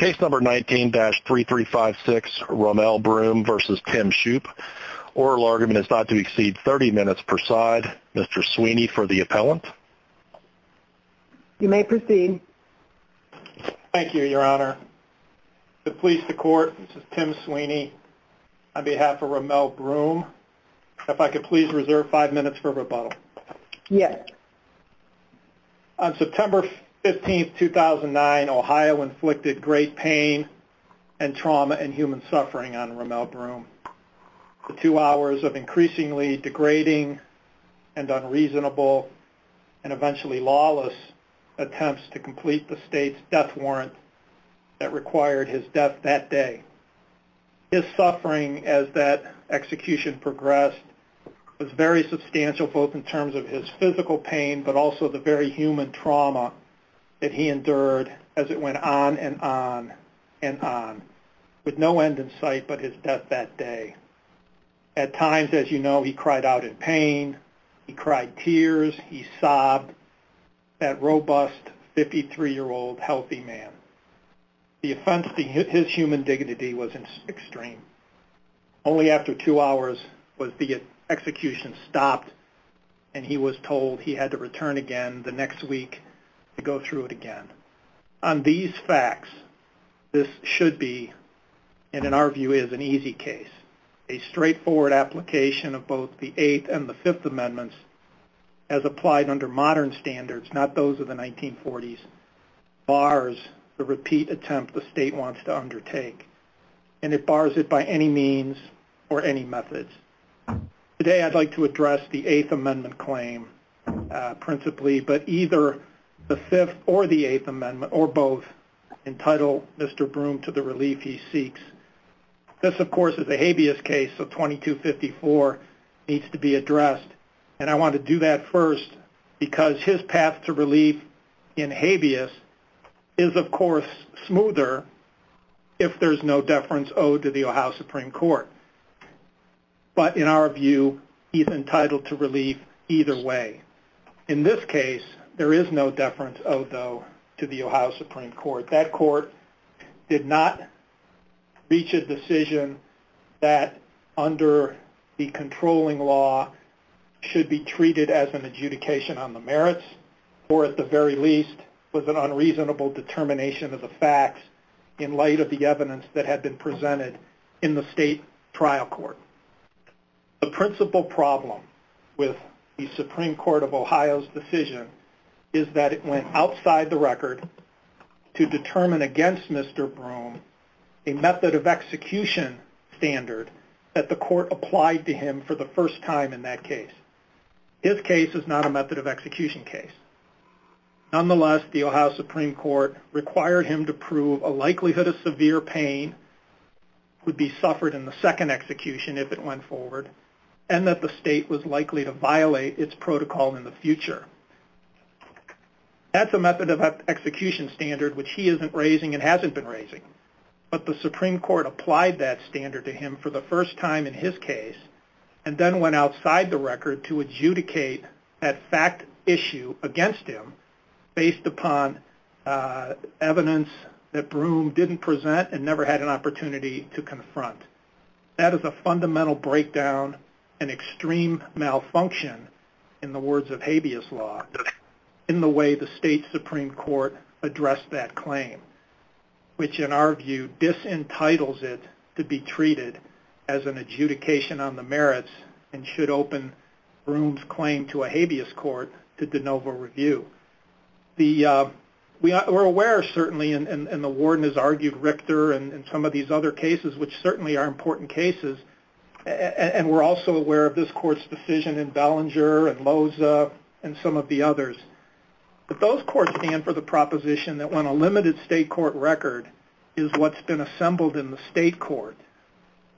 Oral argument is not to exceed 30 minutes per side. Mr. Sweeney for the appellant. You may proceed. Thank you, Your Honor. To the police, the court, this is Tim Sweeney on behalf of Rommel Broom. If I could please reserve 5 minutes for rebuttal. Yes. On September 15, 2009, Ohio inflicted great pain and trauma and human suffering on Rommel Broom. The two hours of increasingly degrading and unreasonable and eventually lawless attempts to complete the state's death warrant that required his death that day. His suffering as that execution progressed was very substantial both in terms of his physical pain but also the very human trauma that he went on and on with no end in sight but his death that day. At times, as you know, he cried out in pain. He cried tears. He sobbed. That robust 53-year-old healthy man. His human dignity was extreme. Only after two hours was the execution stopped and he was told he had to return again the next week to go through it again. On these facts, this should be and in our view is an easy case. A straightforward application of both the Eighth and the Fifth Amendments as applied under modern standards, not those of the 1940s, bars the repeat attempt the state wants to undertake and it bars it by any means or any methods. Today I'd like to address the Eighth Amendment claim principally but either the Fifth or the Eighth Amendment or both entitle Mr. Broome to the relief he seeks. This of course is a habeas case so 2254 needs to be addressed and I want to do that first because his path to relief in habeas is of course smoother if there's no deference owed to the Ohio Supreme Court but in our view he's entitled to relief either way. In this case there is no deference owed though to the Ohio Supreme Court. That court did not reach a decision that under the controlling law should be treated as an adjudication on the merits or at the very least was an unreasonable determination of the facts in light of the evidence that had been presented in the state trial court. The principal problem with the Supreme Court of Ohio's decision is that it went outside the record to determine against Mr. Broome a method of execution standard that the court applied to him for the first time in that case. His case is not a method of execution case. Nonetheless the Ohio Supreme Court required him to prove a likelihood of severe pain would be suffered in the second execution if it went forward and that the state was likely to violate its protocol in the future. That's a method of execution standard which he isn't raising and hasn't been raising but the Supreme Court applied that standard to him for the first time in his case and then went outside the record to adjudicate that fact issue against him based upon evidence That is a fundamental breakdown and extreme malfunction in the words of habeas law in the way the state Supreme Court addressed that claim which in our view disentitles it to be treated as an adjudication on the merits and should open Broome's claim to a habeas court to de novo review. We're aware certainly and the warden has argued Richter and some of these other cases which certainly are important cases and we're also aware of this court's decision in Ballinger and Loza and some of the others. But those courts stand for the proposition that when a limited state court record is what's been assembled in the state court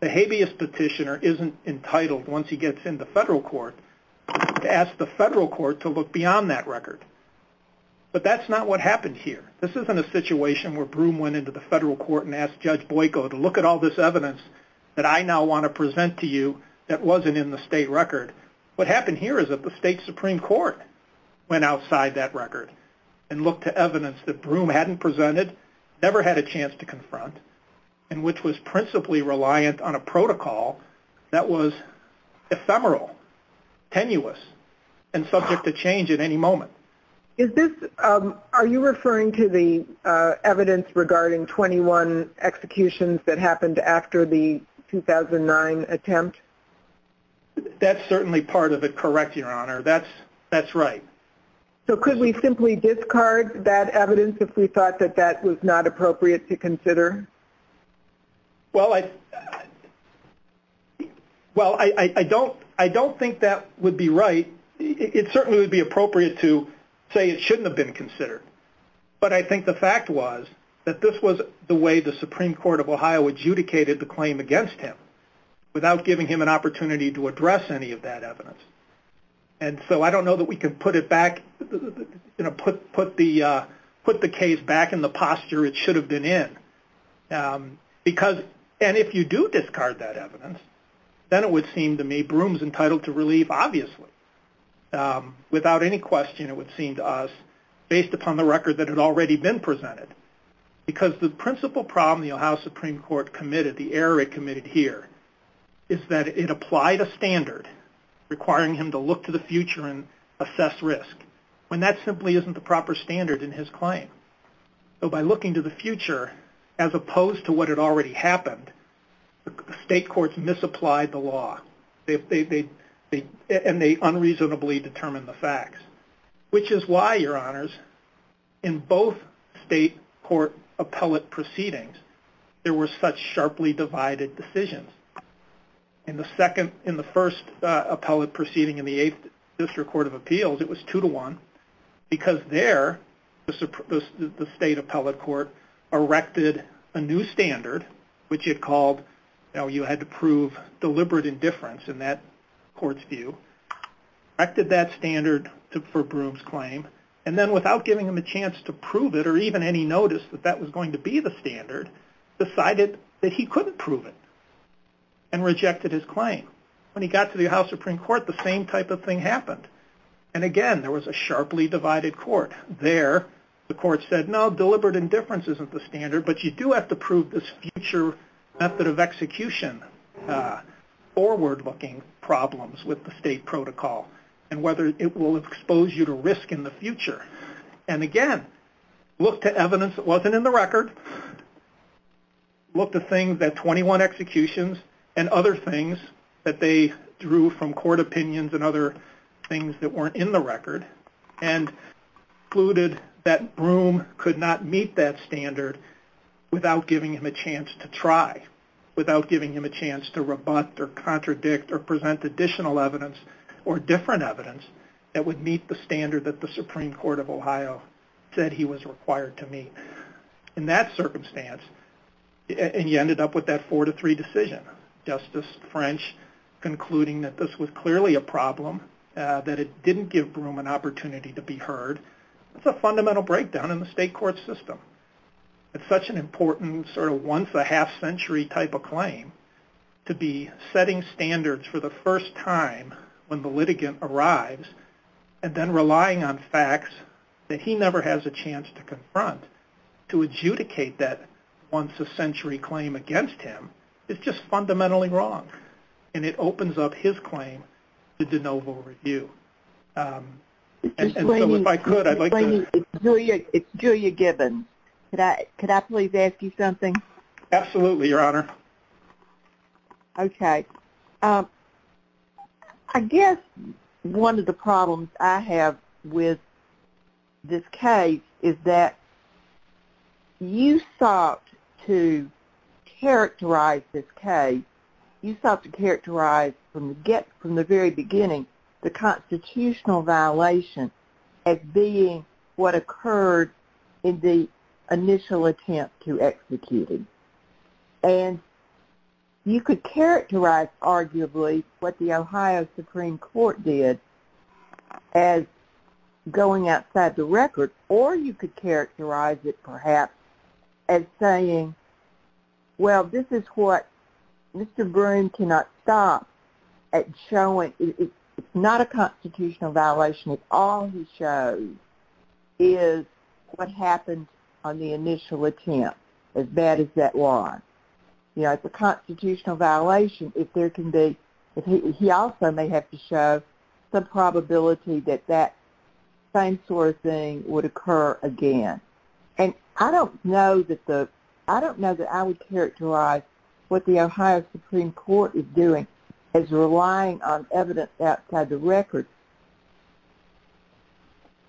the habeas petitioner isn't entitled once he gets into federal court to ask the federal court to look beyond that record. But that's not what happened here. This isn't a situation where Broome went into the federal court and asked Judge Boyko to look at all this evidence that I now want to present to you that wasn't in the state record. What happened here is that the state Supreme Court went outside that record and looked to evidence that Broome hadn't presented, never had a chance to confront, and which was principally reliant on a protocol that was ephemeral, tenuous and subject to change at any moment. Are you referring to the evidence regarding 21 executions that happened after the 2009 attempt? That's certainly part of it, correct, Your Honor. That's right. So could we simply discard that evidence if we thought that that was not appropriate to consider? Well, I don't think that would be right. It certainly would be appropriate to say it shouldn't have been considered. But I think the fact was that this was the way the Supreme Court of Ohio adjudicated the claim against him without giving him an opportunity to address any of that evidence. And so I don't know that we can put the case back in the posture it should have been in. And if you do discard that evidence, then it would seem to me Broome's case, without any question it would seem to us, based upon the record that had already been presented. Because the principal problem the Ohio Supreme Court committed, the error it committed here, is that it applied a standard requiring him to look to the future and assess risk, when that simply isn't the proper standard in his claim. So by looking to the future, as opposed to what had already happened, the state courts misapplied the law. And they unreasonably determined the facts. Which is why, Your Honors, in both state court appellate proceedings, there were such sharply divided decisions. In the first appellate proceeding in the 8th District Court of Appeals, it was 2-1 because there, the state appellate court erected a new standard, which it called you had to prove deliberate indifference in that court's view, erected that standard for Broome's claim, and then without giving him a chance to prove it, or even any notice that that was going to be the standard, decided that he couldn't prove it, and rejected his claim. When he got to the Ohio Supreme Court, the same type of thing happened. And again, there was a sharply divided court. There, the court said, no, deliberate indifference isn't the standard, but you do have to prove this in a future method of execution. Forward-looking problems with the state protocol, and whether it will expose you to risk in the future. And again, looked at evidence that wasn't in the record, looked at things at 21 executions, and other things that they drew from court opinions and other things that weren't in the record, and concluded that Broome could not meet that standard without giving him a chance to try, without giving him a chance to rebut or contradict or present additional evidence or different evidence that would meet the standard that the Supreme Court of Ohio said he was required to meet. In that circumstance, and you ended up with that 4-3 decision. Justice French concluding that this was clearly a problem, that it didn't give Broome an opportunity to be heard. That's a fundamental breakdown in the state court system. It's such an important sort of once-a-half-century type of claim, to be setting standards for the first time when the litigant arrives, and then relying on facts that he never has a chance to confront, to adjudicate that once-a-century claim against him, is just fundamentally wrong. And it opens up his claim to de novo review. And so if I could, I'd like to It's Julia Gibbons. Could I please ask you something? Absolutely, Your Honor. Okay. I guess one of the problems I have with this case is that you sought to characterize this case, you sought to characterize from the very beginning, the constitutional violation as being what occurred in the initial attempt to execute it. And you could characterize, arguably, what the Ohio Supreme Court did as going outside the record, or you could characterize it, perhaps, as saying, well, this is what Mr. Broome cannot stop at showing. It's not a constitutional violation if all he shows is what happened on the initial attempt, as bad as that was. It's a constitutional violation if there can be, he also may have to show some probability that that same sort of thing would occur again. And I don't know that I would characterize what the Ohio Supreme Court is doing as relying on evidence outside the record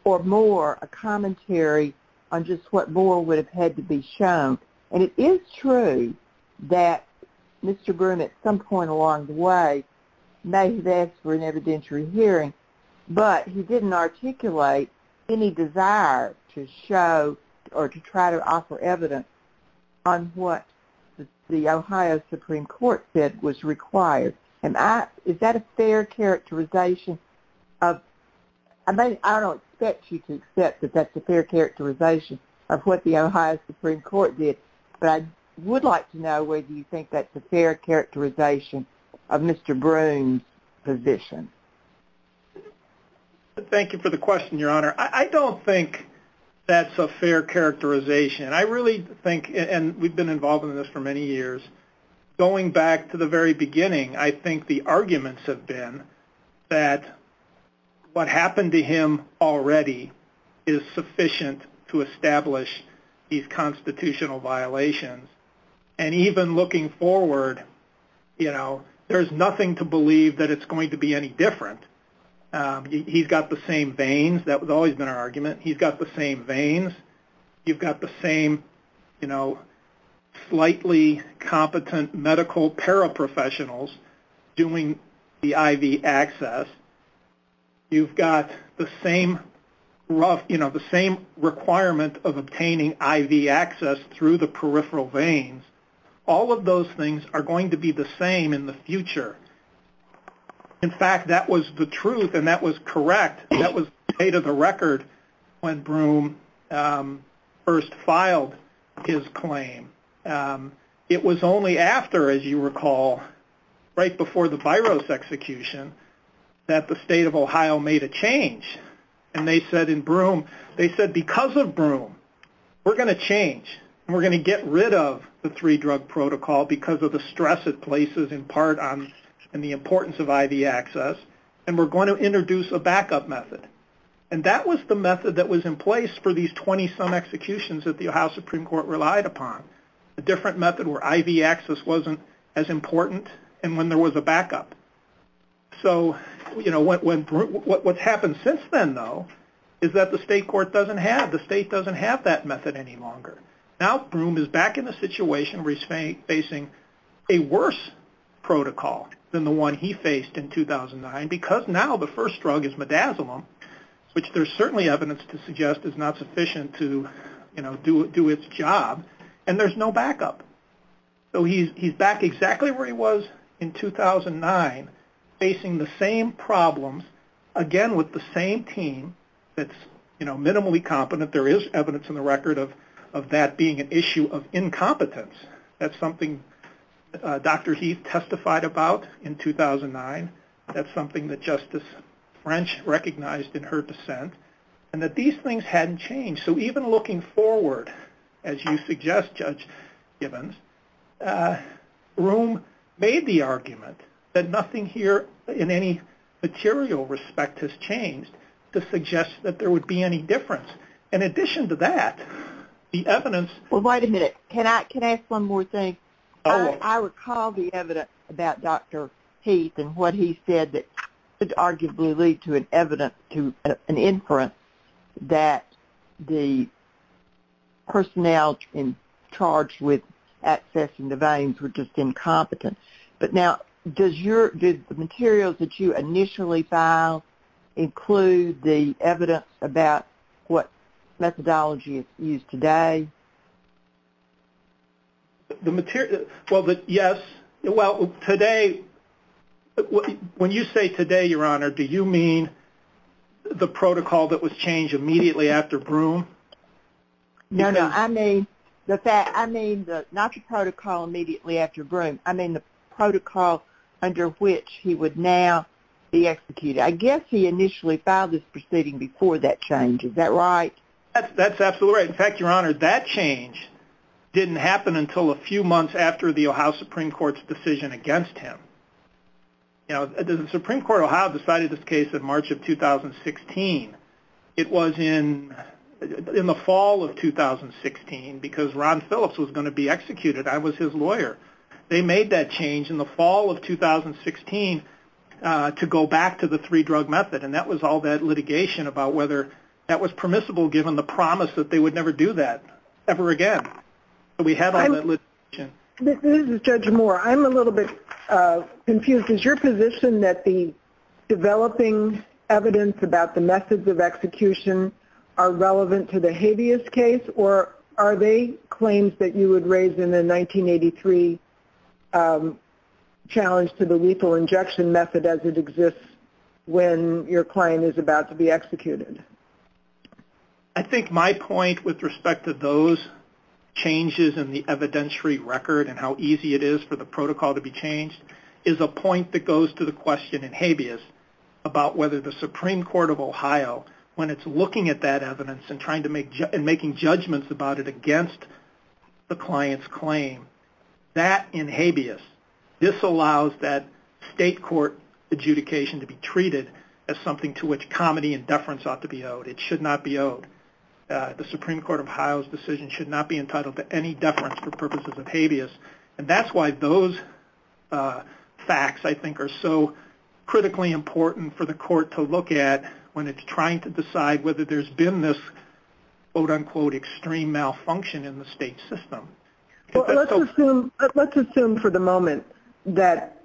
or more a commentary on just what more would have had to be shown. And it is true that Mr. Broome, at some point along the way, may have asked for an evidentiary hearing, but he didn't articulate any desire to show or to try to offer evidence on what the Ohio Supreme Court said was required. Is that a fair characterization of, I don't expect you to accept that that's a fair characterization of what the Ohio Supreme Court did, but I would like to know whether you think that's a fair characterization of Mr. Broome's position. Thank you for the question, Your Honor. I don't think that's a fair characterization. I really think, and we've been involved in this for many years, going back to the very beginning, I think the arguments have been that what happened to him already is sufficient to establish these constitutional violations. And even looking forward, you know, there's nothing to believe that it's going to be any different. He's got the same veins. That's always been our argument. He's got the same veins. You've got the same, you know, greatly competent medical paraprofessionals doing the IV access. You've got the same rough, you know, the same requirement of obtaining IV access through the peripheral veins. All of those things are going to be the same in the future. In fact, that was the truth, and that was correct. That was state of the record when Broome first it was only after, as you recall, right before the Byros execution, that the state of Ohio made a change. And they said in Broome, they said because of Broome, we're going to change, and we're going to get rid of the three drug protocol because of the stress it places in part on the importance of IV access, and we're going to introduce a backup method. And that was the method that was in place for these 20-some executions that the Ohio Supreme Court relied upon, a different method where IV access wasn't as important and when there was a backup. So, you know, what's happened since then, though, is that the state court doesn't have that method any longer. Now Broome is back in a situation where he's facing a worse protocol than the one he faced in 2009 because now the first drug is midazolam, which there's certainly evidence to suggest is not sufficient to do its job, and there's no backup. So he's back exactly where he was in 2009 facing the same problems again with the same team that's minimally competent. There is evidence in the record of that being an issue of incompetence. That's something Dr. Heath testified about in 2009. That's something that Justice French recognized in her dissent. And that these things hadn't changed. So even looking forward as you suggest, Judge Gibbons, Broome made the argument that nothing here in any material respect has changed to suggest that there would be any difference. In addition to that, the evidence... Well, wait a minute. Can I ask one more thing? I recall the evidence about Dr. Heath and what he said that could arguably lead to an inference that the personnel in charge with accessing the veins were just incompetent. But now, did the materials that you initially filed include the evidence about what methodology is used today? Well, yes. Well, today... When you say today, Your Honor, do you mean the protocol that was changed immediately after Broome? No, no. I mean not the protocol immediately after Broome. I mean the protocol under which he would now be executed. I guess he initially filed this proceeding before that change. Is that right? That's absolutely right. In fact, Your Honor, that change did not happen against him. The Supreme Court of Ohio decided this case in March of 2016. It was in the fall of 2016 because Ron Phillips was going to be executed. I was his lawyer. They made that change in the fall of 2016 to go back to the three-drug method. And that was all that litigation about whether that was permissible given the promise that they would never do that ever again. We had all that litigation. This is Judge Moore. I'm a little bit confused. Is your position that the developing evidence about the methods of execution are relevant to the habeas case or are they claims that you would raise in the 1983 challenge to the lethal injection method as it exists when your client is about to be executed? I think my point with respect to those changes in the evidentiary record and how easy it is for the protocol to be changed is a point that goes to the question in habeas about whether the Supreme Court of Ohio, when it's looking at that evidence and making judgments about it against the client's claim, that in habeas, this allows that state court adjudication to be treated as something to which comedy and deference ought to be owed. It should not be owed. The Supreme Court of Ohio's decision should not be entitled to any deference for purposes of habeas. And that's why those facts, I think, are so critically important for the court to look at when it's trying to decide whether there's been this quote-unquote extreme malfunction in the state system. Let's assume for the moment that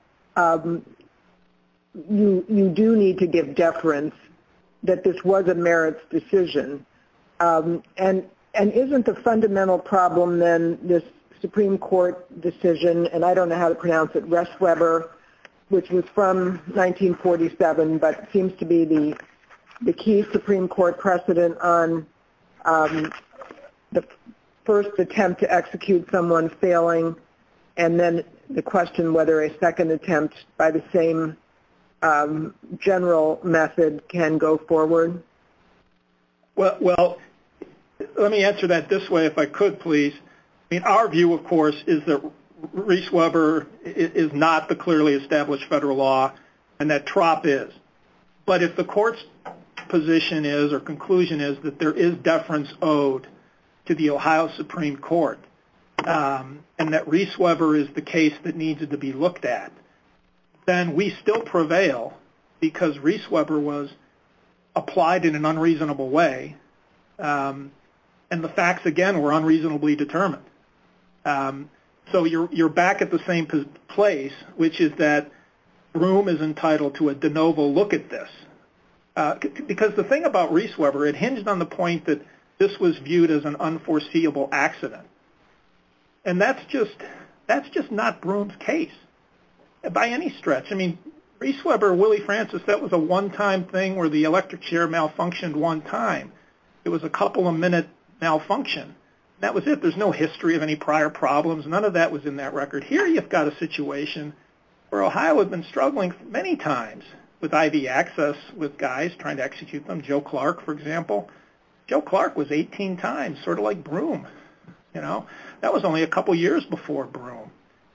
you do need to give deference that this was a merits decision. And isn't the fundamental problem then this Supreme Court decision and I don't know how to pronounce it, Restweber, which was from 1947 but seems to be the key Supreme Court precedent on the first attempt to execute someone failing and then the question whether a second attempt by the same general method can go forward? Let me answer that this way if I could, please. Our view, of course, is that Restweber is not the clearly established federal law and that TROP is. But if the court's position is or conclusion is that there is deference owed to the Ohio Supreme Court and that Restweber is the case that needs to be looked at, then we believe that Restweber was applied in an unreasonable way and the facts, again, were unreasonably determined. So you're back at the same place, which is that Broome is entitled to a de novo look at this. Because the thing about Restweber, it hinged on the point that this was viewed as an unforeseeable accident. And that's just not Broome's case by any stretch. I mean, Restweber, Willie Francis, that was a one-time thing where the electric chair malfunctioned one time. It was a couple of minute malfunction. That was it. There's no history of any prior problems. None of that was in that record. Here you've got a situation where Ohio had been struggling many times with IV access with guys trying to execute them. Joe Clark, for example. Joe Clark was 18 times, sort of like Broome. That was only a couple years before Broome.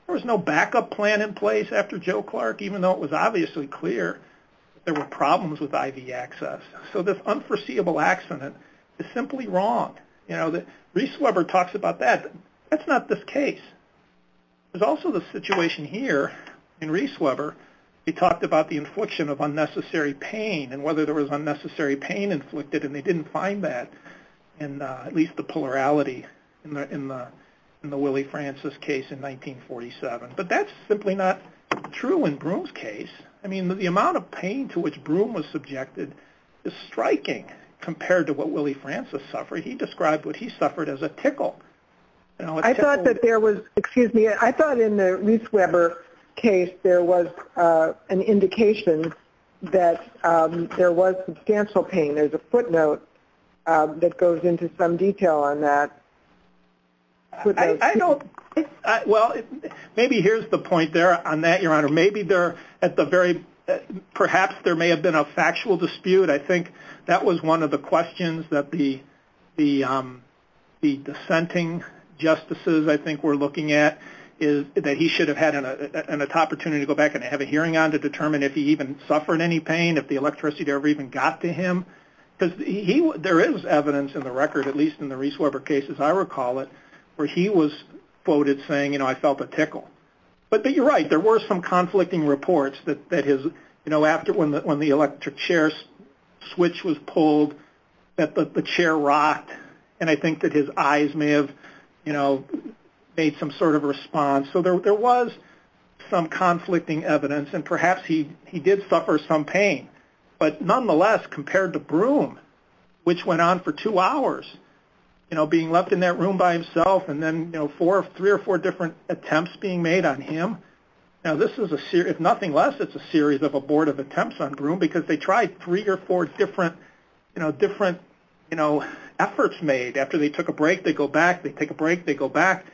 There was no backup plan in place after Joe Clark, even though it was obviously clear there were problems with IV access. So this unforeseeable accident is simply wrong. Restweber talks about that. That's not this case. There's also the situation here in Restweber. He talked about the infliction of unnecessary pain and whether there was unnecessary pain inflicted, and they didn't find that in at least the polarity in the Willie Francis case in 1947. But that's simply not true in Broome's case. I mean, the amount of pain to which Broome was subjected is striking compared to what Willie Francis suffered. He described what he suffered as a tickle. I thought that there was, excuse me, I thought in the Restweber case there was an indication that there was substantial pain. There's a footnote that goes into some detail on that. Well, maybe here's the point there on that, Your Honor. Perhaps there may have been a factual dispute. I think that was one of the questions that the dissenting justices I think were looking at is that he should have had an opportunity to go back and have a hearing on to determine if he even suffered any pain, if the electricity there ever even got to him. Because there is evidence in the record, at least in the Restweber case as I recall it, where he was quoted saying, you know, I felt a tickle. But you're right, there were some conflicting reports that his, you know, after when the electric chair switch was pulled, that the chair rocked, and I think that his eyes may have, you know, made some sort of response. So there was some conflicting evidence, and perhaps he did suffer some pain. But nonetheless, compared to Broome, which went on for two hours, you know, being left in that room by himself and then, you know, three or four different attempts being made on him, now this is a series, if nothing less, it's a series of abortive attempts on Broome because they tried three or four different, you know, efforts made. After they took a break, they go back, they take a break, they go back,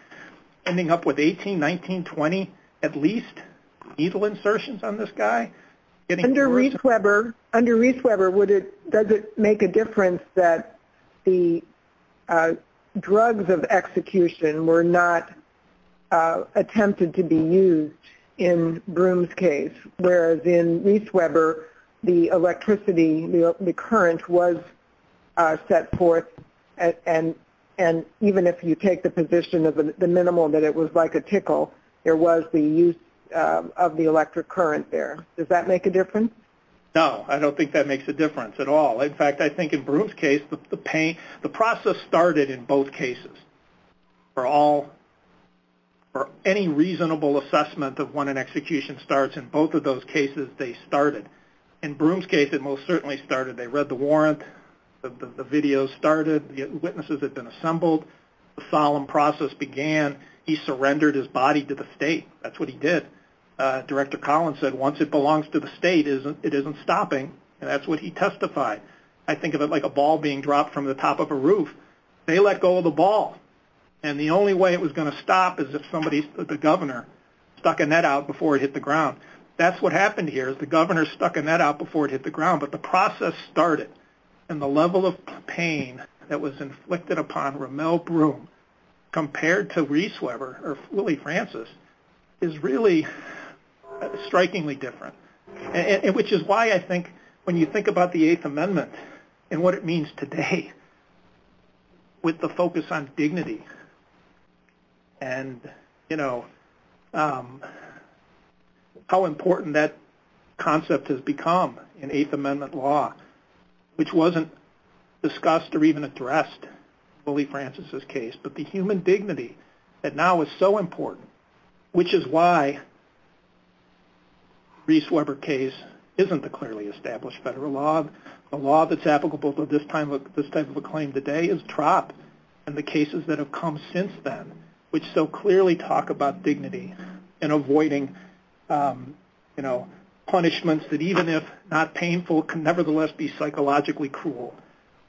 ending up with 18, 19, 20 at least needle insertions on this guy. Under Restweber, does it make a difference that the drugs of execution were not attempted to be used in Broome's case, whereas in Restweber, the electricity, the current was set forth, and even if you take the position of the minimal that it was like a tickle, there was the use of the electric current there. Does that make a difference? No, I don't think that makes a difference at all. In fact, I think in Broome's case, the process started in both cases. For any reasonable assessment of when an execution starts in both of those cases, they started. In Broome's case, it most certainly started. They read the warrant, the videos started, the witnesses had been assembled, the solemn process began, he surrendered his body to the state. That's what he did. Director Collins said once it belongs to the state, it isn't stopping, and that's what he testified. I think of it like a ball being dropped from the top of a roof. They let go of the ball, and the only way it was going to stop is if somebody, the governor, stuck a net out before it hit the ground. That's what happened here. The governor stuck a net out before it hit the ground, but the process started, and the level of pain that was inflicted upon Rommel Broome compared to Restweber, or Willie Francis, is really strikingly different, which is why I think when you think about the Eighth Amendment and what it means today with the focus on dignity and how important that concept has become in Eighth Amendment law, which wasn't discussed or even addressed in Willie Francis' case, but the human dignity that now is so important, which is why Restweber case isn't a clearly established federal law. The law that's applicable to this type of a claim today is TROP and the cases that have come since then, which so clearly talk about dignity and avoiding punishments that even if not painful can nevertheless be psychologically cruel,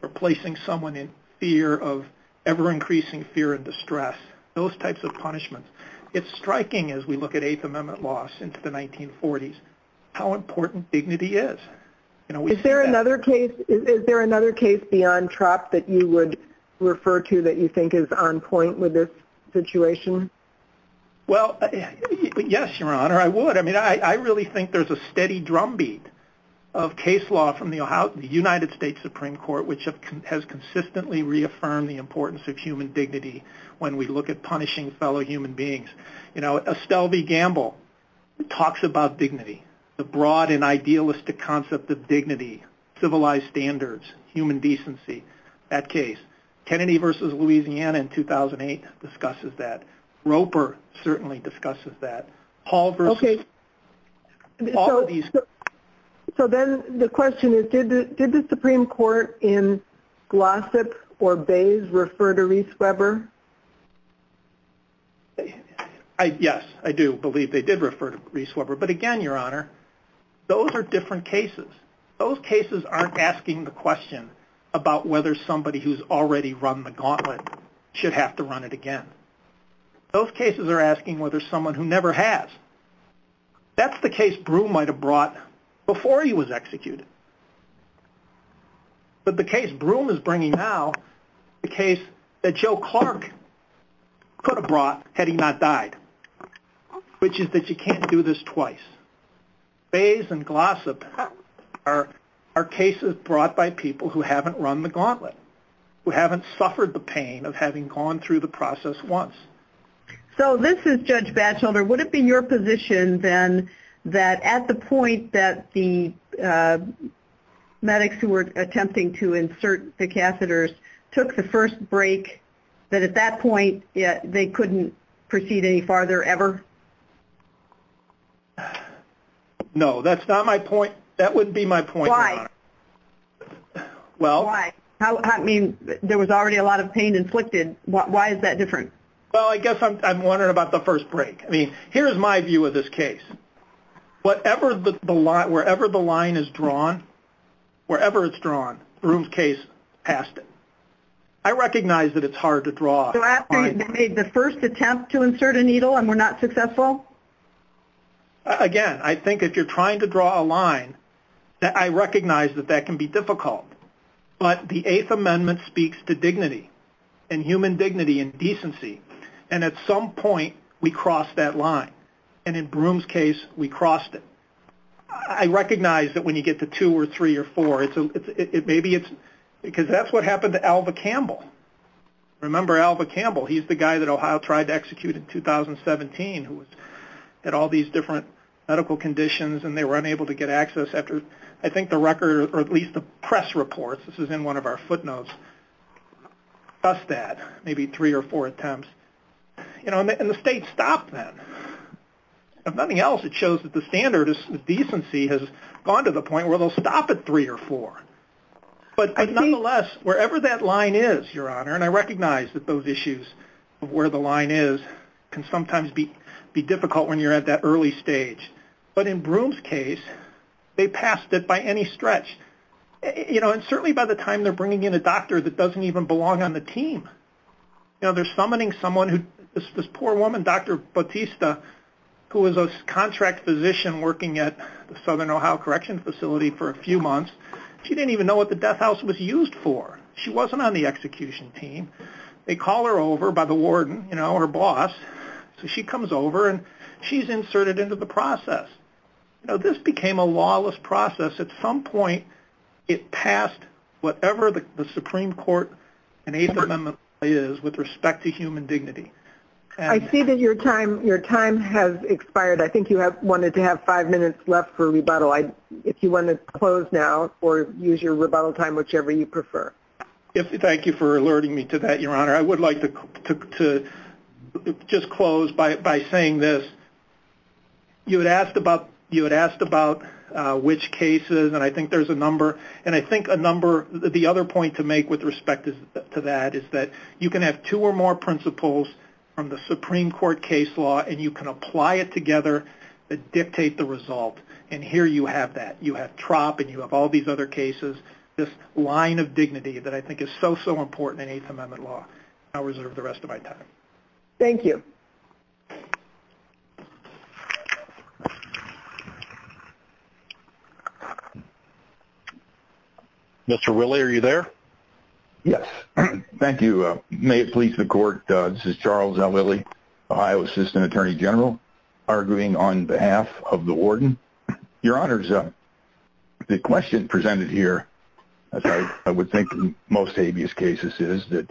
or placing someone in fear of ever-increasing fear and distress, those types of punishments. It's striking as we look at Eighth Amendment law since the 1940s how important dignity is. Is there another case beyond TROP that you would refer to that you think is on point with this situation? Well, yes, Your Honor, I would. I really think there's a steady drumbeat of case law from the United States Supreme Court, which has consistently reaffirmed the importance of human dignity when we look at punishing fellow human beings. Estelle v. Gamble talks about dignity, the broad and idealistic concept of dignity, civilized standards, human decency, that case. Kennedy v. Louisiana in 2008 discusses that. Roper certainly discusses that. So then the question is, did the Gossip or Bayes refer to Reese Weber? Yes, I do believe they did refer to Reese Weber. But again, Your Honor, those are different cases. Those cases aren't asking the question about whether somebody who's already run the gauntlet should have to run it again. Those cases are asking whether someone who never has. That's the case Broome might have brought before he was executed. But the case Broome is bringing now, the case that Joe Clark could have brought had he not died, which is that you can't do this twice. Bayes and Gossip are cases brought by people who haven't run the gauntlet, who haven't suffered the pain of having gone through the process once. So this is Judge Batchelder. Would it be your position then that at the point that the medics who were attempting to insert the catheters took the first break, that at that point they couldn't proceed any farther ever? No, that's not my point. That wouldn't be my point, Your Honor. Why? There was already a lot of pain inflicted. Why is that different? Well, I guess I'm wondering about the first break. Here's my view of this case. Wherever the line is drawn, wherever it's drawn, Broome's case passed it. I recognize that it's hard to draw a line. So after you've made the first attempt to insert a needle and were not successful? Again, I think if you're trying to draw a line, I recognize that that can be difficult. But the Eighth Amendment speaks to dignity and human dignity and decency. And at some point we cross that line. And in Broome's case, we crossed it. I recognize that when you get to two or three or four, because that's what happened to Alva Campbell. Remember Alva Campbell? He's the guy that Ohio tried to execute in 2017 who had all these different medical conditions and they were unable to get access after I think the record, or at least the press reports, this is in one of our footnotes, maybe three or four attempts. And the state stopped then. If nothing else, it shows that the standard of decency has gone to the point where they'll stop at three or four. But nonetheless, wherever that line is, Your Honor, and I recognize that those issues of where the line is can sometimes be difficult when you're at that early stage. But in Broome's case, they passed it by any stretch. And certainly by the time they're bringing in a doctor that doesn't even belong on the team, they're summoning someone who, this poor woman, Dr. Bautista, who is a contract physician working at the Southern Ohio Correctional Facility for a few months. She didn't even know what the death house was used for. She wasn't on the execution team. They call her over by the warden, her boss. So she comes over and she's inserted into the process. This became a lawless process. At some point, it passed whatever the line is with respect to human dignity. I see that your time has expired. I think you wanted to have five minutes left for rebuttal. If you want to close now or use your rebuttal time, whichever you prefer. Thank you for alerting me to that, Your Honor. I would like to just close by saying this. You had asked about which cases, and I think there's a number. And I think a number, the other point to make with respect to that is that you can have two or more principles from the Supreme Court case law and you can apply it together to dictate the result. And here you have that. You have TROP and you have all these other cases. This line of dignity that I think is so, so important in Eighth Amendment law. I'll reserve the rest of my time. Thank you. Mr. Willie, are you there? Yes. Thank you. May it please the Court, this is Charles L. Willie, Ohio Assistant Attorney General, arguing on behalf of the Warden. Your Honors, the question presented here, as I would think in most habeas cases, is that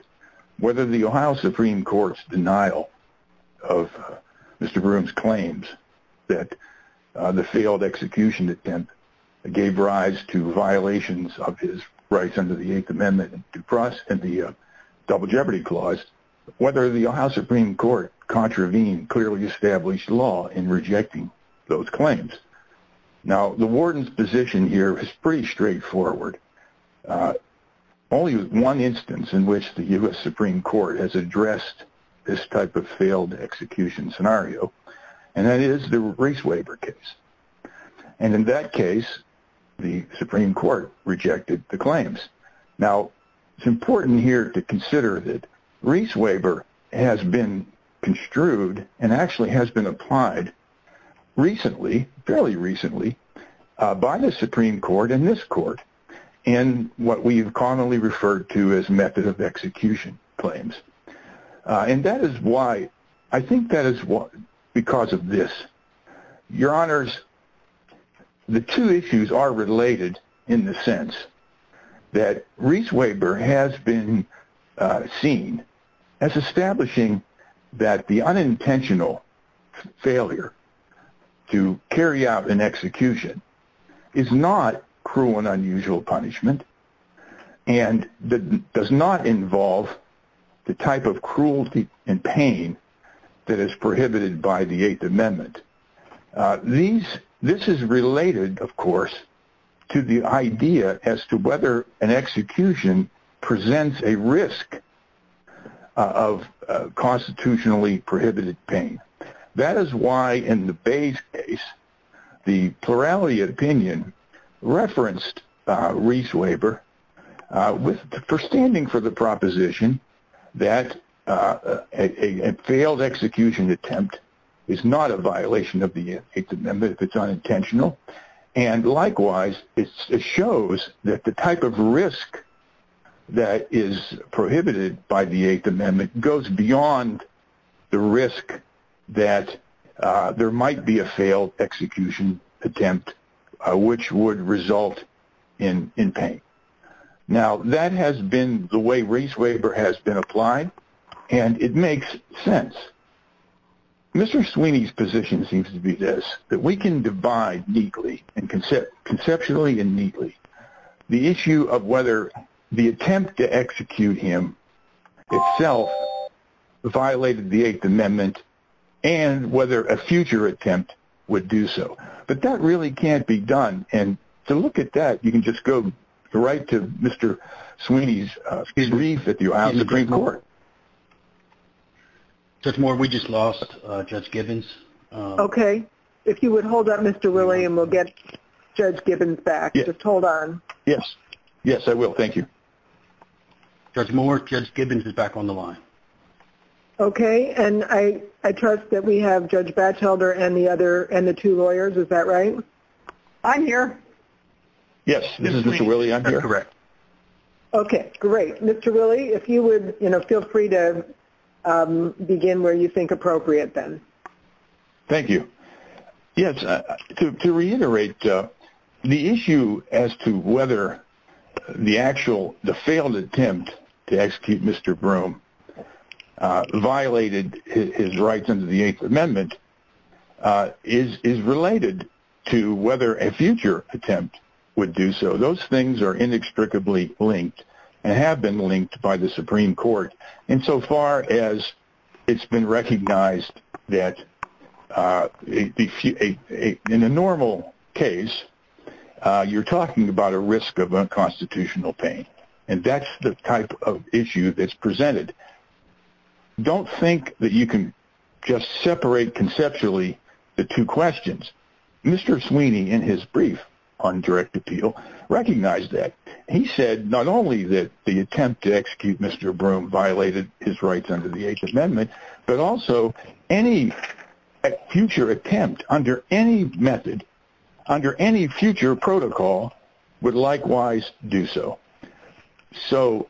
whether the Ohio Supreme Court's denial of Mr. Broome's claims that the failed execution attempt gave rise to violations of his rights under the Eighth Amendment and the Double Jeopardy Clause, whether the Ohio Supreme Court clearly established law in rejecting those claims. Now, the Warden's position here is pretty straightforward. Only one instance in which the U.S. Supreme Court has addressed this type of failed execution scenario, and that is the Reese Waiver case. And in that case, the Supreme Court rejected the claims. Now, it's important here to consider that Reese Waiver has been construed and actually has been applied recently, fairly recently, by the Supreme Court and this Court in what we've commonly referred to as the Supreme Court. And that is why, I think that is because of this. Your Honors, the two issues are related in the sense that Reese Waiver has been seen as establishing that the unintentional failure to carry out an execution is not cruel and unusual punishment and does not involve the type of cruelty and pain that is prohibited by the Eighth Amendment. This is related, of course, to the idea as to whether an execution presents a risk of constitutionally prohibited pain. That is why in the Bayes case, the plurality opinion referenced Reese Waiver for standing for the proposition that a failed execution attempt is not a violation of the Eighth Amendment if it's unintentional. And likewise, it shows that the type of risk that is prohibited by the Eighth Amendment goes beyond the risk that there might be a failed execution attempt, which would result in pain. Now, that has been the way Reese Waiver has been applied, and it makes sense. Mr. Sweeney's position seems to be this, that we can divide neatly and conceptually and neatly the issue of whether the attempt to execute him itself violated the Eighth Amendment and whether a future attempt would do so. But that really can't be done, and to look at that, you can just go right to Mr. Sweeney's brief at the Ohio Supreme Court. Judge Moore, we just lost Judge Gibbons. Okay. If you would hold up, Mr. Rilley, and we'll get Judge Gibbons back. Just hold on. Yes. Yes, I will. Thank you. Judge Moore, Judge Gibbons is back on the line. Okay, and I see the dispatch holder and the two lawyers. Is that right? I'm here. Yes, this is Mr. Rilley. I'm here. Okay, great. Mr. Rilley, if you would feel free to begin where you think appropriate, then. Thank you. Yes, to reiterate, the issue as to whether the failed attempt to execute Mr. Broome violated his rights under the Eighth Amendment is related to whether a future attempt would do so. Those things are inextricably linked and have been linked by the Supreme Court insofar as it's been recognized that in a normal case, you're talking about a risk of unconstitutional pain, and that's the type of issue that's presented. Don't think that you can just separate conceptually the two questions. Mr. Sweeney in his brief on direct appeal recognized that. He said not only that the attempt to execute Mr. Broome violated his rights under the Eighth Amendment, but also any future attempt under any method, under any future protocol would likewise do so.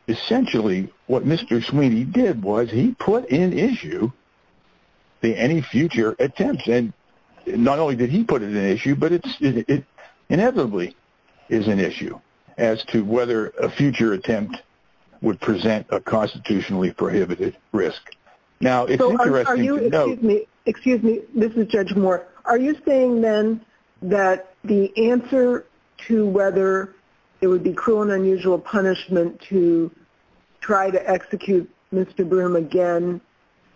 Essentially, what Mr. Sweeney did was he put in issue the any future attempt. Not only did he put it in issue, but it inevitably is an issue as to whether a future attempt would present a constitutionally prohibited risk. Excuse me, this is Judge Moore. Are you saying then that the answer to whether it would be cruel and unusual punishment to try to execute Mr. Broome again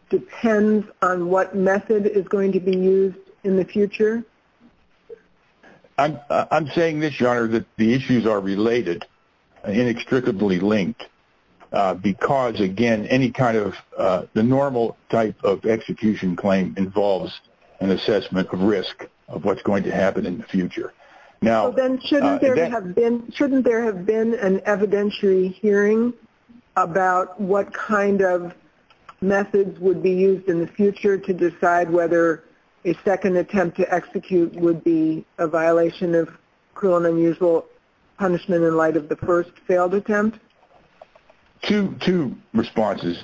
depends on what method is going to be used in the future? I'm saying this, Your Honor, that the issues are related and inextricably linked because, again, the normal type of execution claim involves So then shouldn't there have been an evidentiary hearing about what kind of methods would be used in the future to decide whether a second attempt to execute would be a violation of cruel and unusual punishment in light of the first failed attempt? Two responses,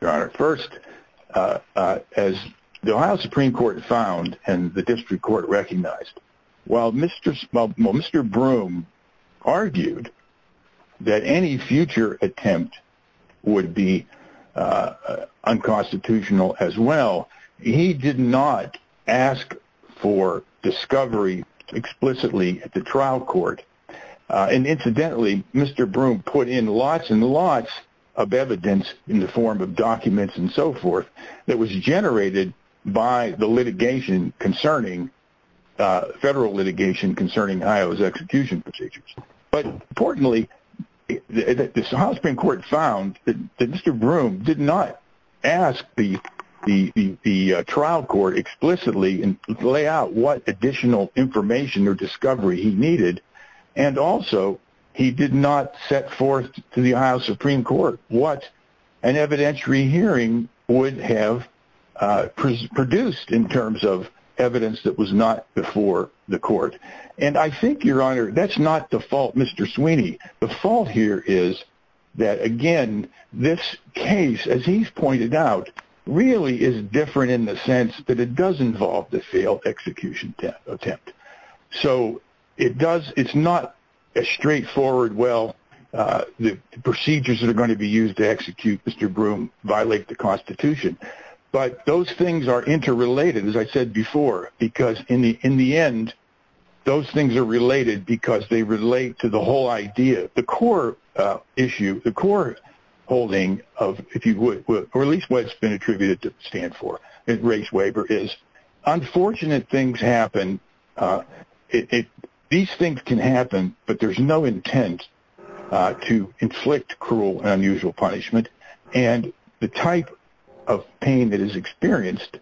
Your Honor. First, as the Ohio Supreme Court found and the Ohio Supreme Court found, while Mr. Broome argued that any future attempt would be unconstitutional as well, he did not ask for discovery explicitly at the trial court. Incidentally, Mr. Broome put in lots and lots of evidence in the form of documents and so forth that was generated by the litigation concerning federal litigation concerning Ohio's execution procedures. But importantly, the Ohio Supreme Court found that Mr. Broome did not ask the trial court explicitly to lay out what additional information or discovery he needed and also he did not set forth to the Ohio Supreme Court what an evidentiary hearing would have produced in terms of evidence that was not before the court. And I think, Your Honor, that's not the fault, Mr. Sweeney. The fault here is that again, this case, as he's pointed out, really is different in the sense that it does involve the failed execution attempt. So it's not as straightforward, well, the procedures that are going to be used to enforce the Constitution. But those things are interrelated, as I said before, because in the end, those things are related because they relate to the whole idea. The core issue, the core holding of, if you would, or at least what's been attributed to stand for in Race Waiver, is unfortunate things happen. These things can happen, but there's no intent to inflict cruel and unusual punishment and the type of pain that is experienced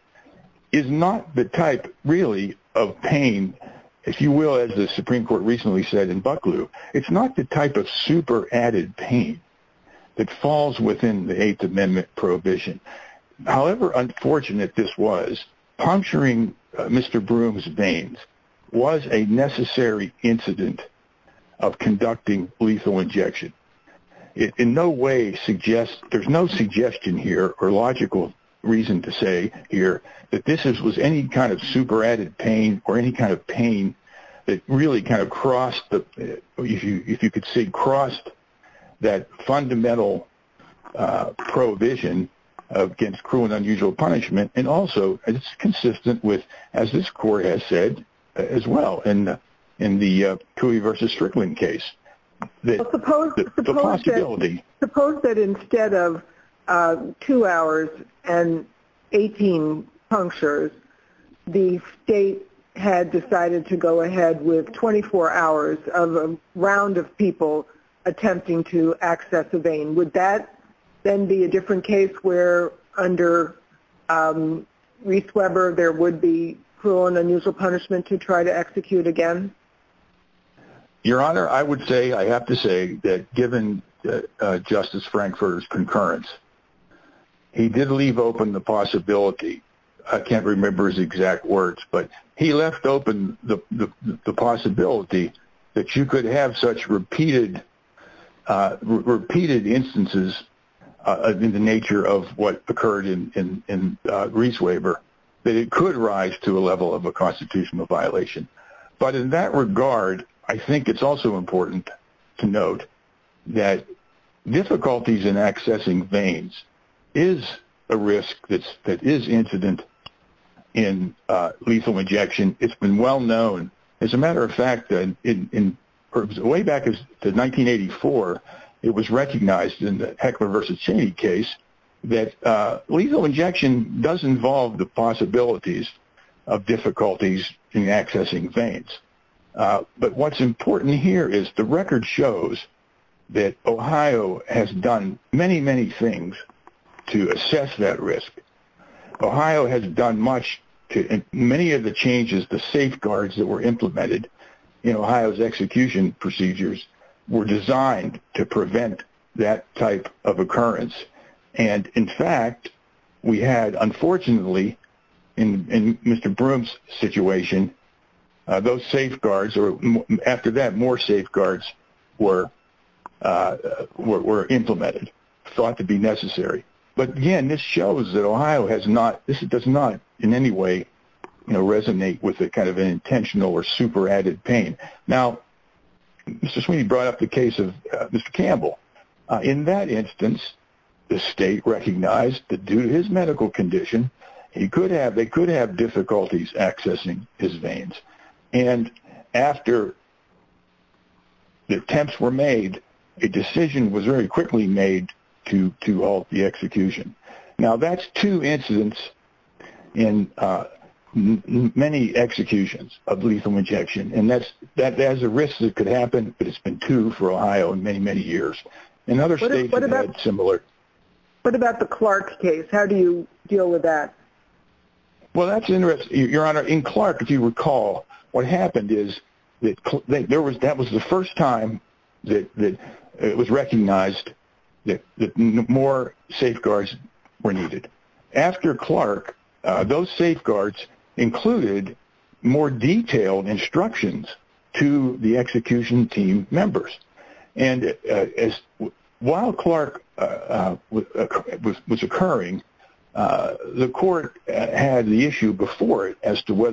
is not the type, really, of pain if you will, as the Supreme Court recently said in Bucklew, it's not the type of super added pain that falls within the Eighth Amendment Prohibition. However unfortunate this was, puncturing Mr. Broome's veins was a necessary incident of conducting lethal injection. In no way suggests, there's no suggestion here or logical reason to say here that this was any kind of super added pain or any kind of pain that really kind of crossed, if you could say crossed, that fundamental prohibition against cruel and unusual punishment and also it's consistent with, as this Court has said as well in the Cooey v. Strickland case. Suppose that instead of two hours and 18 punctures, the state had decided to go ahead with 24 hours of a round of people attempting to access a vein. Would that then be a different case where under Race Weber there would be cruel and unusual punishment to try to execute again? Your Honor, I would say, I have to say that given Justice Frankfurter's concurrence, he did leave open the possibility. I can't remember his exact words but he left open the possibility that you could have such repeated instances in the nature of what occurred in Race Weber that it could rise to a level of a constitutional violation. But in that regard, I think it's also important to note that difficulties in accessing veins is a risk that is incident in lethal injection. It's been well known as a matter of fact, way back in 1984 it was recognized in the Heckler v. Cheney case that lethal injection does involve the possibilities of difficulties in accessing veins. But what's important here is the record shows that Ohio has done many, many things to assess that risk. Ohio has done much, many of the changes, the safeguards that were implemented in Ohio's execution procedures were designed to prevent that type of occurrence. And in fact, we had unfortunately, in Mr. Broome's situation those safeguards, or after that, more safeguards were implemented, thought to be necessary. But again, this shows that Ohio does not in any way resonate with an intentional or super added pain. Now, Mr. Sweeney brought up the case of Mr. Campbell. In that instance, the state recognized that due to his medical condition, they could have difficulties accessing his veins. And after the attempts were made, a decision was very quickly made to halt the execution. Now, that's two incidents in many executions of lethal injection. And that's a risk that could happen, but it's been two for Ohio in many, many years. What about the Clark case? How do you deal with that? In Clark, if you recall, what happened is that that was the first time that it was recognized that more safeguards were needed. After Clark, those safeguards included more detailed instructions to the execution team members. While Clark was occurring, the court had the issue before it as to what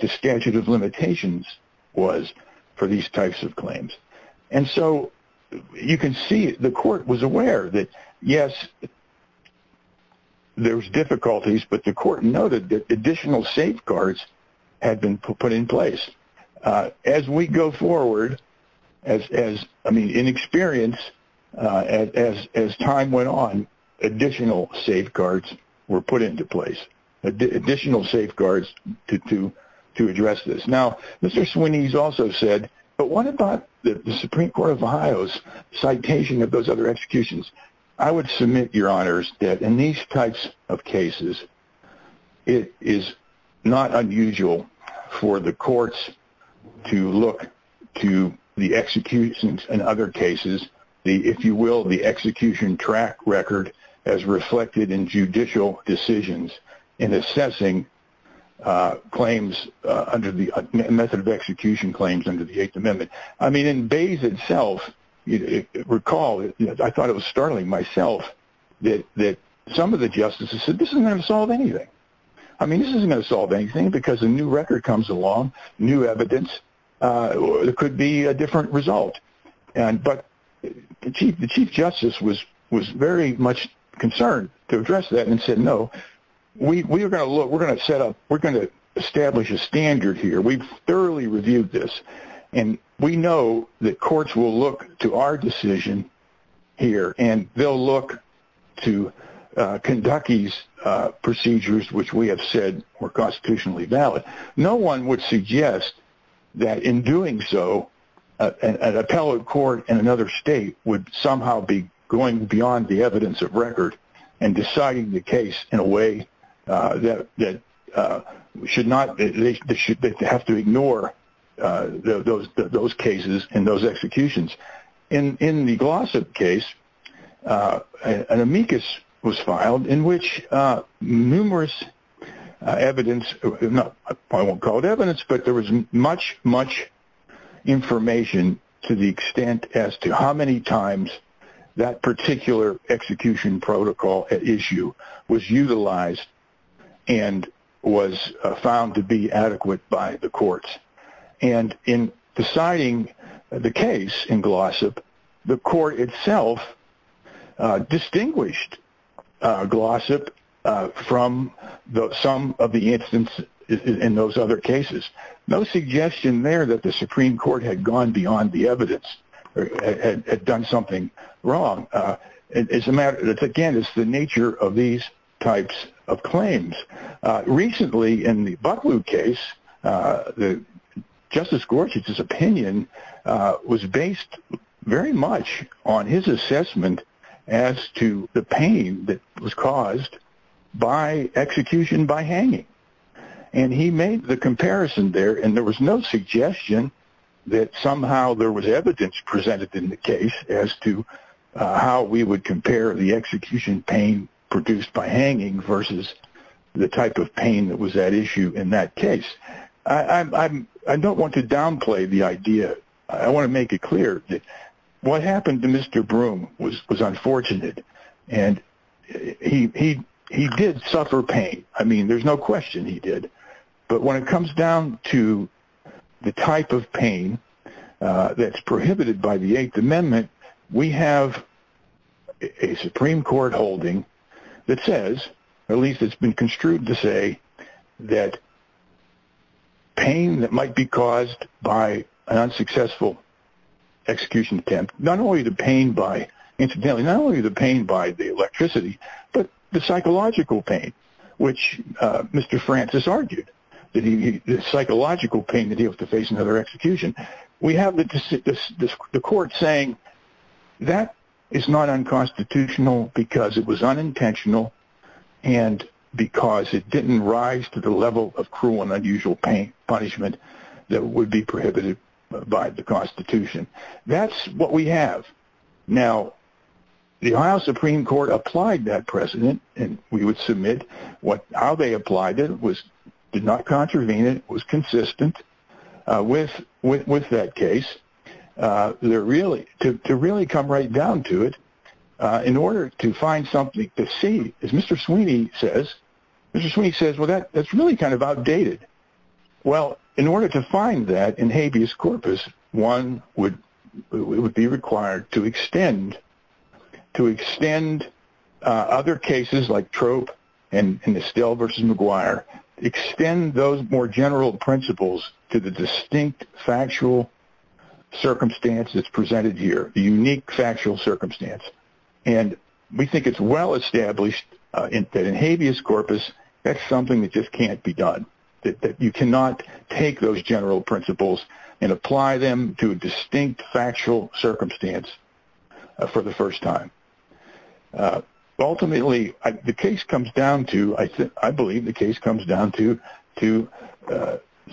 the statute of limitations was for these types of claims. You can see the court was aware that, yes, there were difficulties, but the court noted that additional safeguards had been put in place. As we go forward, in experience, as time went on, additional safeguards were put into place, additional safeguards to address this. Now, Mr. Swinney has also said, but what about the Supreme Court of Ohio's citation of those other executions? I would submit, Your Honors, that in these types of cases, it is not unusual for the courts to look to the executions and other cases, if you will, the execution track record as reflected in judicial decisions in assessing claims under the method of execution claims under the Eighth Amendment. In Bays itself, recall, I thought it was startling myself that some of the justices said, this isn't going to solve anything. I mean, this isn't going to solve anything because a new record comes along, new evidence, it could be a different result. But the Chief Justice was very much concerned to address that and said, no, we're going to establish a standard here. We've thoroughly reviewed this. And we know that courts will look to our decision here, and they'll look to procedures which we have said were constitutionally valid. No one would suggest that in doing so, an appellate court in another state would somehow be going beyond the evidence of record and deciding the case in a way that should not, they have to ignore those cases and those executions. In the Glossip case, an amicus was filed in which numerous evidence, I won't call it evidence, but there was much, much information to the extent as to how many times that particular execution protocol issue was utilized and was found to be adequate by the courts. And in deciding the case in Glossip, the court itself distinguished Glossip from some of the incidents in those other cases. No suggestion there that the Supreme Court had gone beyond the evidence or had done something wrong. Again, it's the nature of these types of claims. Recently, in the Butlew case, Justice Gorsuch's opinion was based very much on his assessment as to the pain that was caused by execution by hanging. And he made the comparison there, and there was no suggestion that somehow there was evidence presented in the case as to how we would compare the execution pain produced by hanging versus the type of pain that was at issue in that case. I don't want to downplay the what happened to Mr. Broom was unfortunate, and he did suffer pain. I mean, there's no question he did. But when it comes down to the type of pain that's prohibited by the Eighth Amendment, we have a Supreme Court holding that says, at least it's been construed to say, that pain that might be caused by an unsuccessful execution attempt, not only the pain by the electricity, but the psychological pain, which Mr. Francis argued, the psychological pain that he was to face in another execution. We have the court saying, that is not unconstitutional because it was unintentional and because it didn't rise to the level of cruel and unusual punishment that would be prohibited by the Constitution. That's what we have. Now, the Ohio Supreme Court applied that precedent, and we would submit how they applied it, did not contravene it, was consistent with that case. To really come right down to it, in order to find something to see, as Mr. Sweeney says, Mr. Sweeney says, that's really kind of outdated. In order to find that in habeas corpus, one would be required to extend other cases like Trope and Estelle v. McGuire, extend those more general principles to the distinct factual circumstance that's presented here, the unique factual circumstance. We think it's well done, but in order to find that in habeas corpus, that's something that just can't be done. You cannot take those general principles and apply them to a distinct factual circumstance for the first time. Ultimately, the case comes down to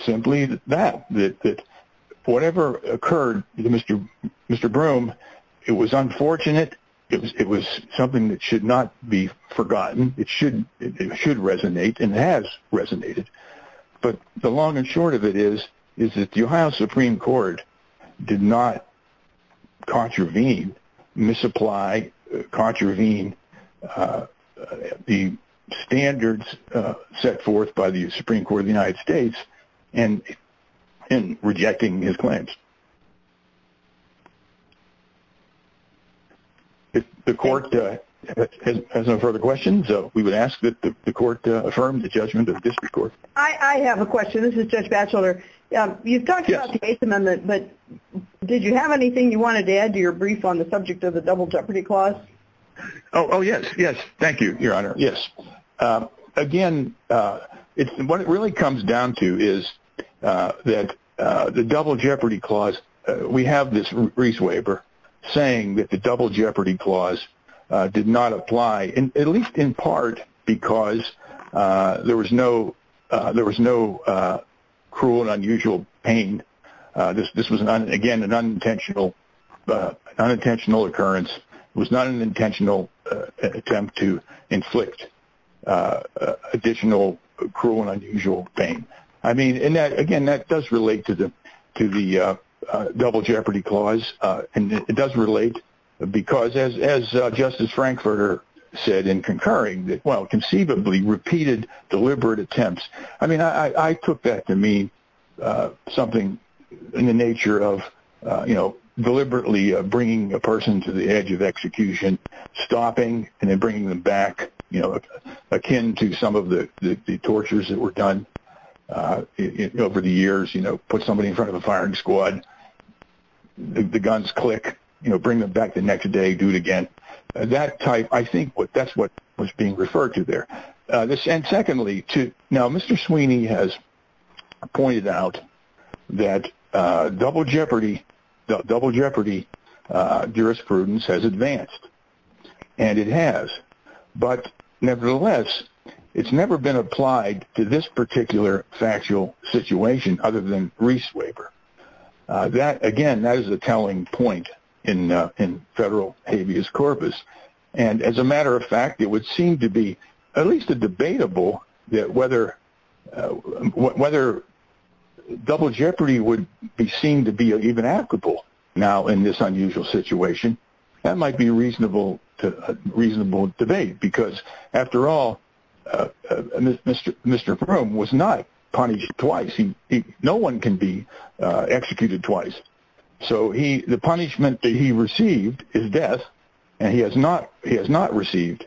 simply that. Whatever occurred to Mr. Broom, it was something that should resonate and has resonated. The long and short of it is that the Ohio Supreme Court did not contravene, misapply, contravene the standards set forth by the Supreme Court of the United States in rejecting his claims. The court has no further questions. We would ask that the court affirm the judgment of the district court. I have a question. This is Judge Batchelder. You talked about the Eighth Amendment, but did you have anything you wanted to add to your brief on the subject of the Double Jeopardy Clause? Again, what it really comes down to is that the Double Jeopardy Clause we have this Reese Waiver saying that the Double Jeopardy Clause did not apply, at least in part, because there was no cruel and unusual pain. This was, again, an unintentional occurrence. It was not an intentional attempt to inflict additional cruel and unusual pain. Again, that does relate to the Double Jeopardy Clause. It does relate because, as Justice Frankfurter said in concurring, well, conceivably repeated deliberate attempts. I mean, I took that to mean something in the nature of deliberately bringing a person to the edge of execution, stopping and then bringing them back, akin to some of the tactics that have been used over the years, put somebody in front of a firing squad, the guns click, bring them back the next day, do it again. I think that's what was being referred to there. Now, Mr. Sweeney has pointed out that Double Jeopardy jurisprudence has advanced, and it has. Nevertheless, it's never been applied to this particular factual situation other than Reese's Waiver. Again, that is a telling point in federal habeas corpus. As a matter of fact, it would seem to be at least debatable whether Double Jeopardy would be seen to be even applicable now in this unusual situation. That might be a reasonable debate because after all, Mr. Broome was not punished twice. No one can be executed twice. So the punishment that he received is death and he has not received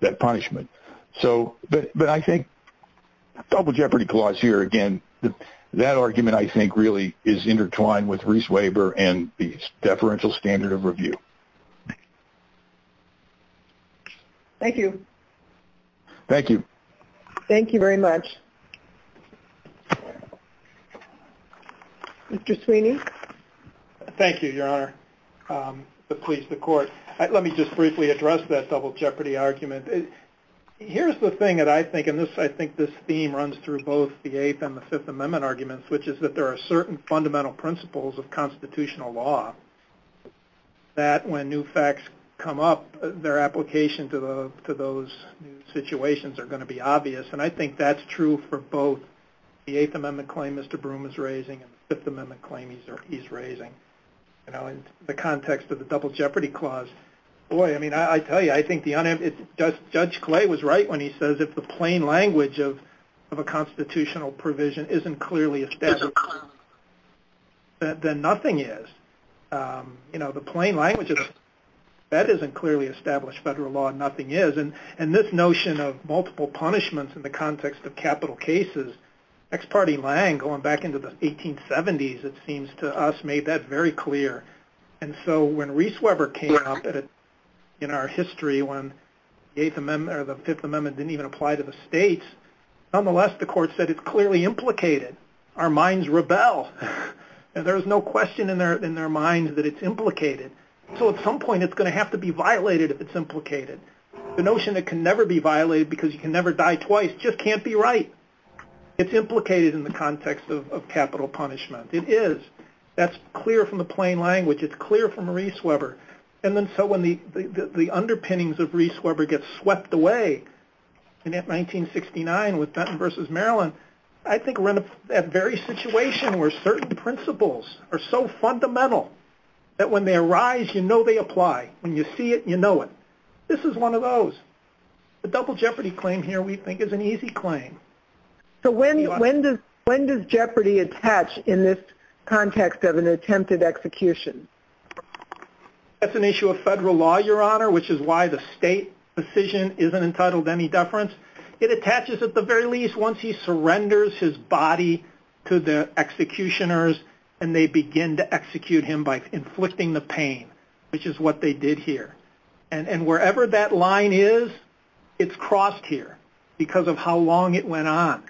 that punishment. But I think Double Jeopardy clause here, again, that argument, I think, really is intertwined with Reese's Waiver and the deferential standard of review. Thank you. Thank you very much. Mr. Sweeney? Thank you, Your Honor. Let me just briefly address that Double Jeopardy argument. Here's the thing that I think, and I think this theme runs through both the Eighth and the Fifth Amendment arguments, which is that there are certain fundamental principles of constitutional law that when new facts come up, their application to those new situations are going to be obvious. And I think that's true for both the Eighth Amendment claim Mr. Broome is raising and the Fifth Amendment claim he's raising. In the context of the Double Jeopardy clause, boy, I tell you, I think Judge Clay was right when he says if the plain language of a constitutional provision isn't clearly established, then nothing is. You know, the plain language of a provision that isn't clearly established federal law, nothing is. And this notion of multiple punishments in the context of capital cases, next party lang, going back into the 1870s, it seems to us made that very clear. And so when Reese Weber came up in our history when the Fifth Amendment didn't even apply to the states, nonetheless the court said it's clearly implicated. Our minds rebel. And there's no question in their minds that it's implicated. So at some point it's going to have to be violated if it's implicated. The notion that it can never be violated because you can never die twice just can't be right. It's implicated in the context of capital punishment. It is. That's clear from the plain language. It's clear from Reese Weber. And then so when the underpinnings of Reese Weber get swept away in 1969 with Denton v. Maryland, I think we're in that very situation where certain principles are so fundamental that when they arise you know they apply. When you see it you know it. This is one of those. The double jeopardy claim here we think is an easy claim. So when does jeopardy attach in this context of an attempted execution? That's an issue of federal law, Your Honor, which is why the state decision isn't entitled any deference. It attaches at the very least once he surrenders his body to the executioners and they begin to execute him by inflicting the pain which is what they did here. And wherever that line is it's crossed here because of how long it went on.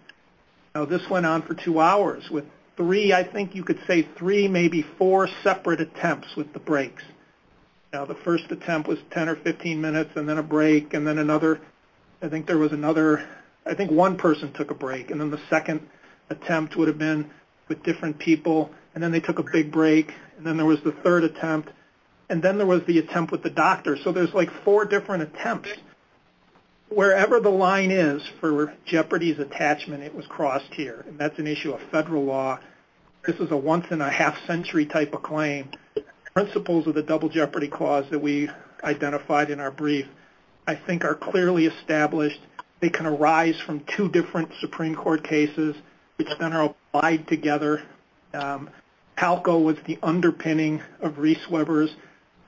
Now this went on for two hours with three I think you could say three maybe four separate attempts with the breaks. Now the first attempt was 10 or 15 minutes and then a break and then another I think there was another I think one person took a break and then the second attempt would have been with different people and then they took a big break and then there was the third attempt and then there was the attempt with the doctor. So there's like four different attempts. Wherever the line is for jeopardy's attachment it was crossed here. And that's an issue of federal law. This is a once in a half century type of claim. Principles of the double jeopardy clause that we identified in our brief I think are clearly established. They can arise from two different Supreme Court cases which then are applied together. Palco was the underpinning of Reese Weber's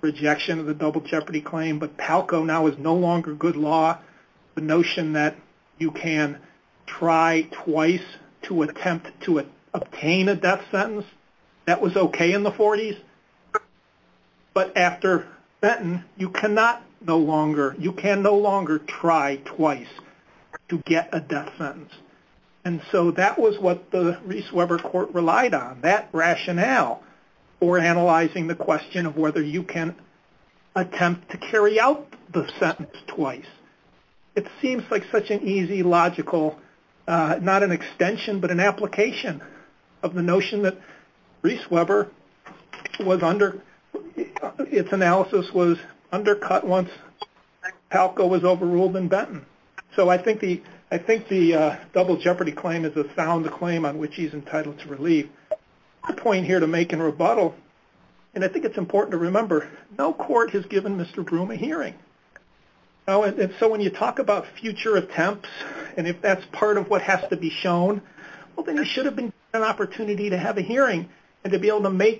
rejection of the double jeopardy claim but Palco now is no longer good law. The notion that you can try twice to attempt to obtain a death sentence that was okay in the 40s but after then you cannot no longer you can no longer try twice to get a death sentence. And so that was what the Reese Weber court relied on. That rationale for analyzing the question of whether you can attempt to carry out the sentence twice. It seems like such an easy logical not an extension but an application of the notion that Reese Weber was under its analysis was undercut once Palco was overruled in Benton. So I think the double jeopardy claim is a sound claim on which he's entitled to relief. My point here to make in rebuttal and I think it's important to remember no court has given Mr. Broom a hearing. So when you talk about future attempts and if that's part of what has to be shown well then he should have been given an opportunity to have a hearing and to be able to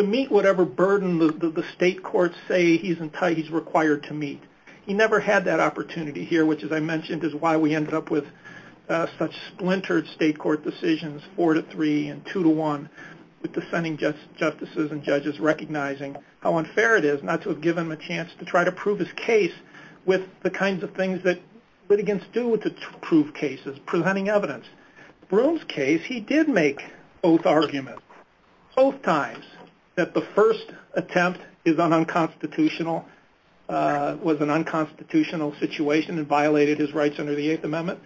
meet whatever burden the state courts say he's required to meet. He never had that opportunity here which as I mentioned is why we ended up with such splintered state court decisions 4-3 and 2-1 with dissenting justices and judges recognizing how unfair it is not to give him a chance to try to prove his case with the kinds of things that he begins to do to prove cases, presenting evidence. Broom's case he did make both arguments both times that the first attempt was an unconstitutional situation and violated his rights under the Eighth Amendment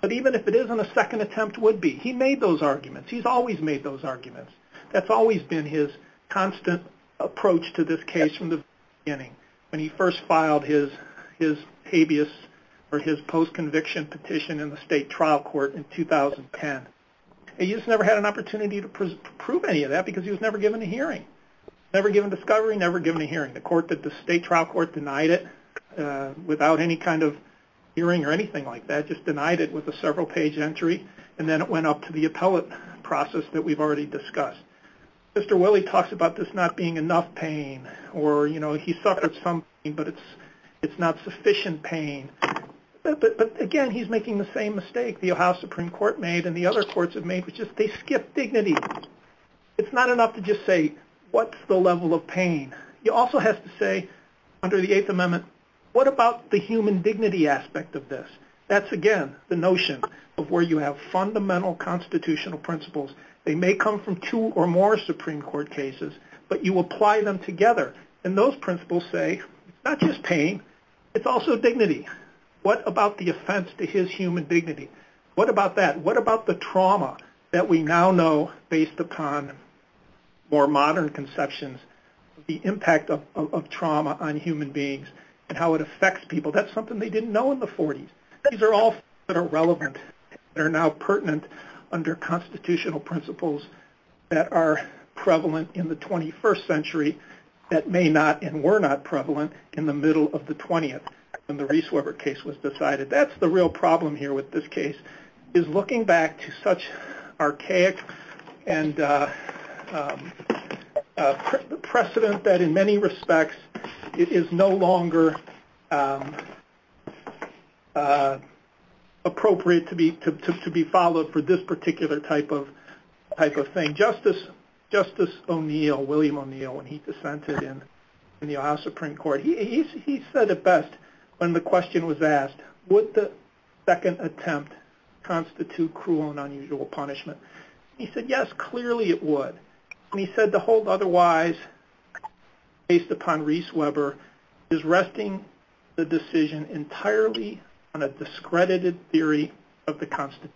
but even if it isn't a second attempt would be. He made those arguments. He's always made those arguments. That's always been his constant approach to this case from the beginning. When he first filed his post-conviction petition in the state trial court in 2010 he just never had an opportunity to prove any of that because he was never given a hearing. Never given discovery, never given a hearing. The state trial court denied it without any kind of hearing or anything like that. Just denied it with a several page entry and then it went up to the appellate process that we've already discussed. Mr. Willie talks about this not being enough pain or he suffered some pain but it's not sufficient pain. But again he's making the same mistake the Ohio Supreme Court made and the other courts have made which is they skip dignity. It's not enough to just say what's the level of pain. He also has to say under the Eighth Amendment what about the human dignity aspect of this. That's again the notion of where you have fundamental constitutional principles. They may come from two or more Supreme Court cases but you apply them together and those principles say it's not just pain, it's also dignity. What about the offense to his human dignity? What about that? What about the trauma that we now know based upon more modern conceptions, the impact of trauma on human beings and how it affects people. That's something they didn't know in the 40s. These are all things that are relevant, that are now pertinent under constitutional principles that are prevalent in the 21st century that may not and were not prevalent in the middle of the 20th when the Reese Weber case was decided. That's the real problem here with this case is looking back to such archaic and precedent that in many respects it is no longer appropriate to be followed for this particular type of thing. Justice O'Neill, William O'Neill when he dissented in the Ohio Supreme Court he said it best when the question was asked, would the second attempt constitute cruel and unusual punishment? He said yes, clearly it would. He said the hold otherwise based upon Reese Weber is resting the decision entirely on a discredited theory of the Constitution.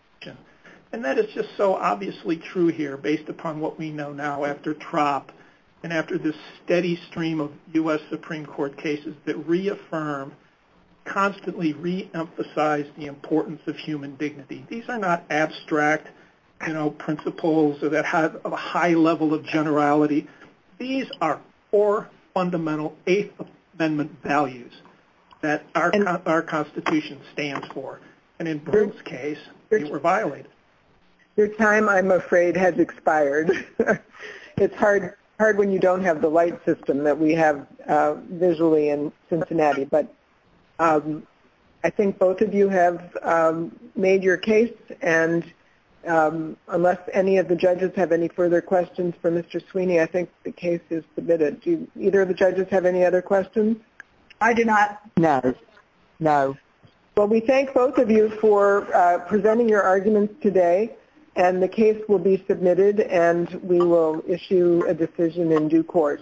That is just so obviously true here based upon what we know now after TROP and after this steady stream of U.S. Supreme Court cases that reaffirm constantly reemphasize the importance of human dignity. These are not abstract principles that have a high level of generality. These are four fundamental Eighth Amendment values that our Constitution stands for and in Burns' case they were violated. Your time I'm afraid has expired. It's hard when you don't have the light system that we have visually in Cincinnati, but I think both of you have made your case and unless any of the judges have any further questions for Mr. Sweeney I think the case is submitted. Do either of the judges have any other questions? I do not. No. No. Well we thank both of you for today and the case will be submitted and we will issue a decision in due court.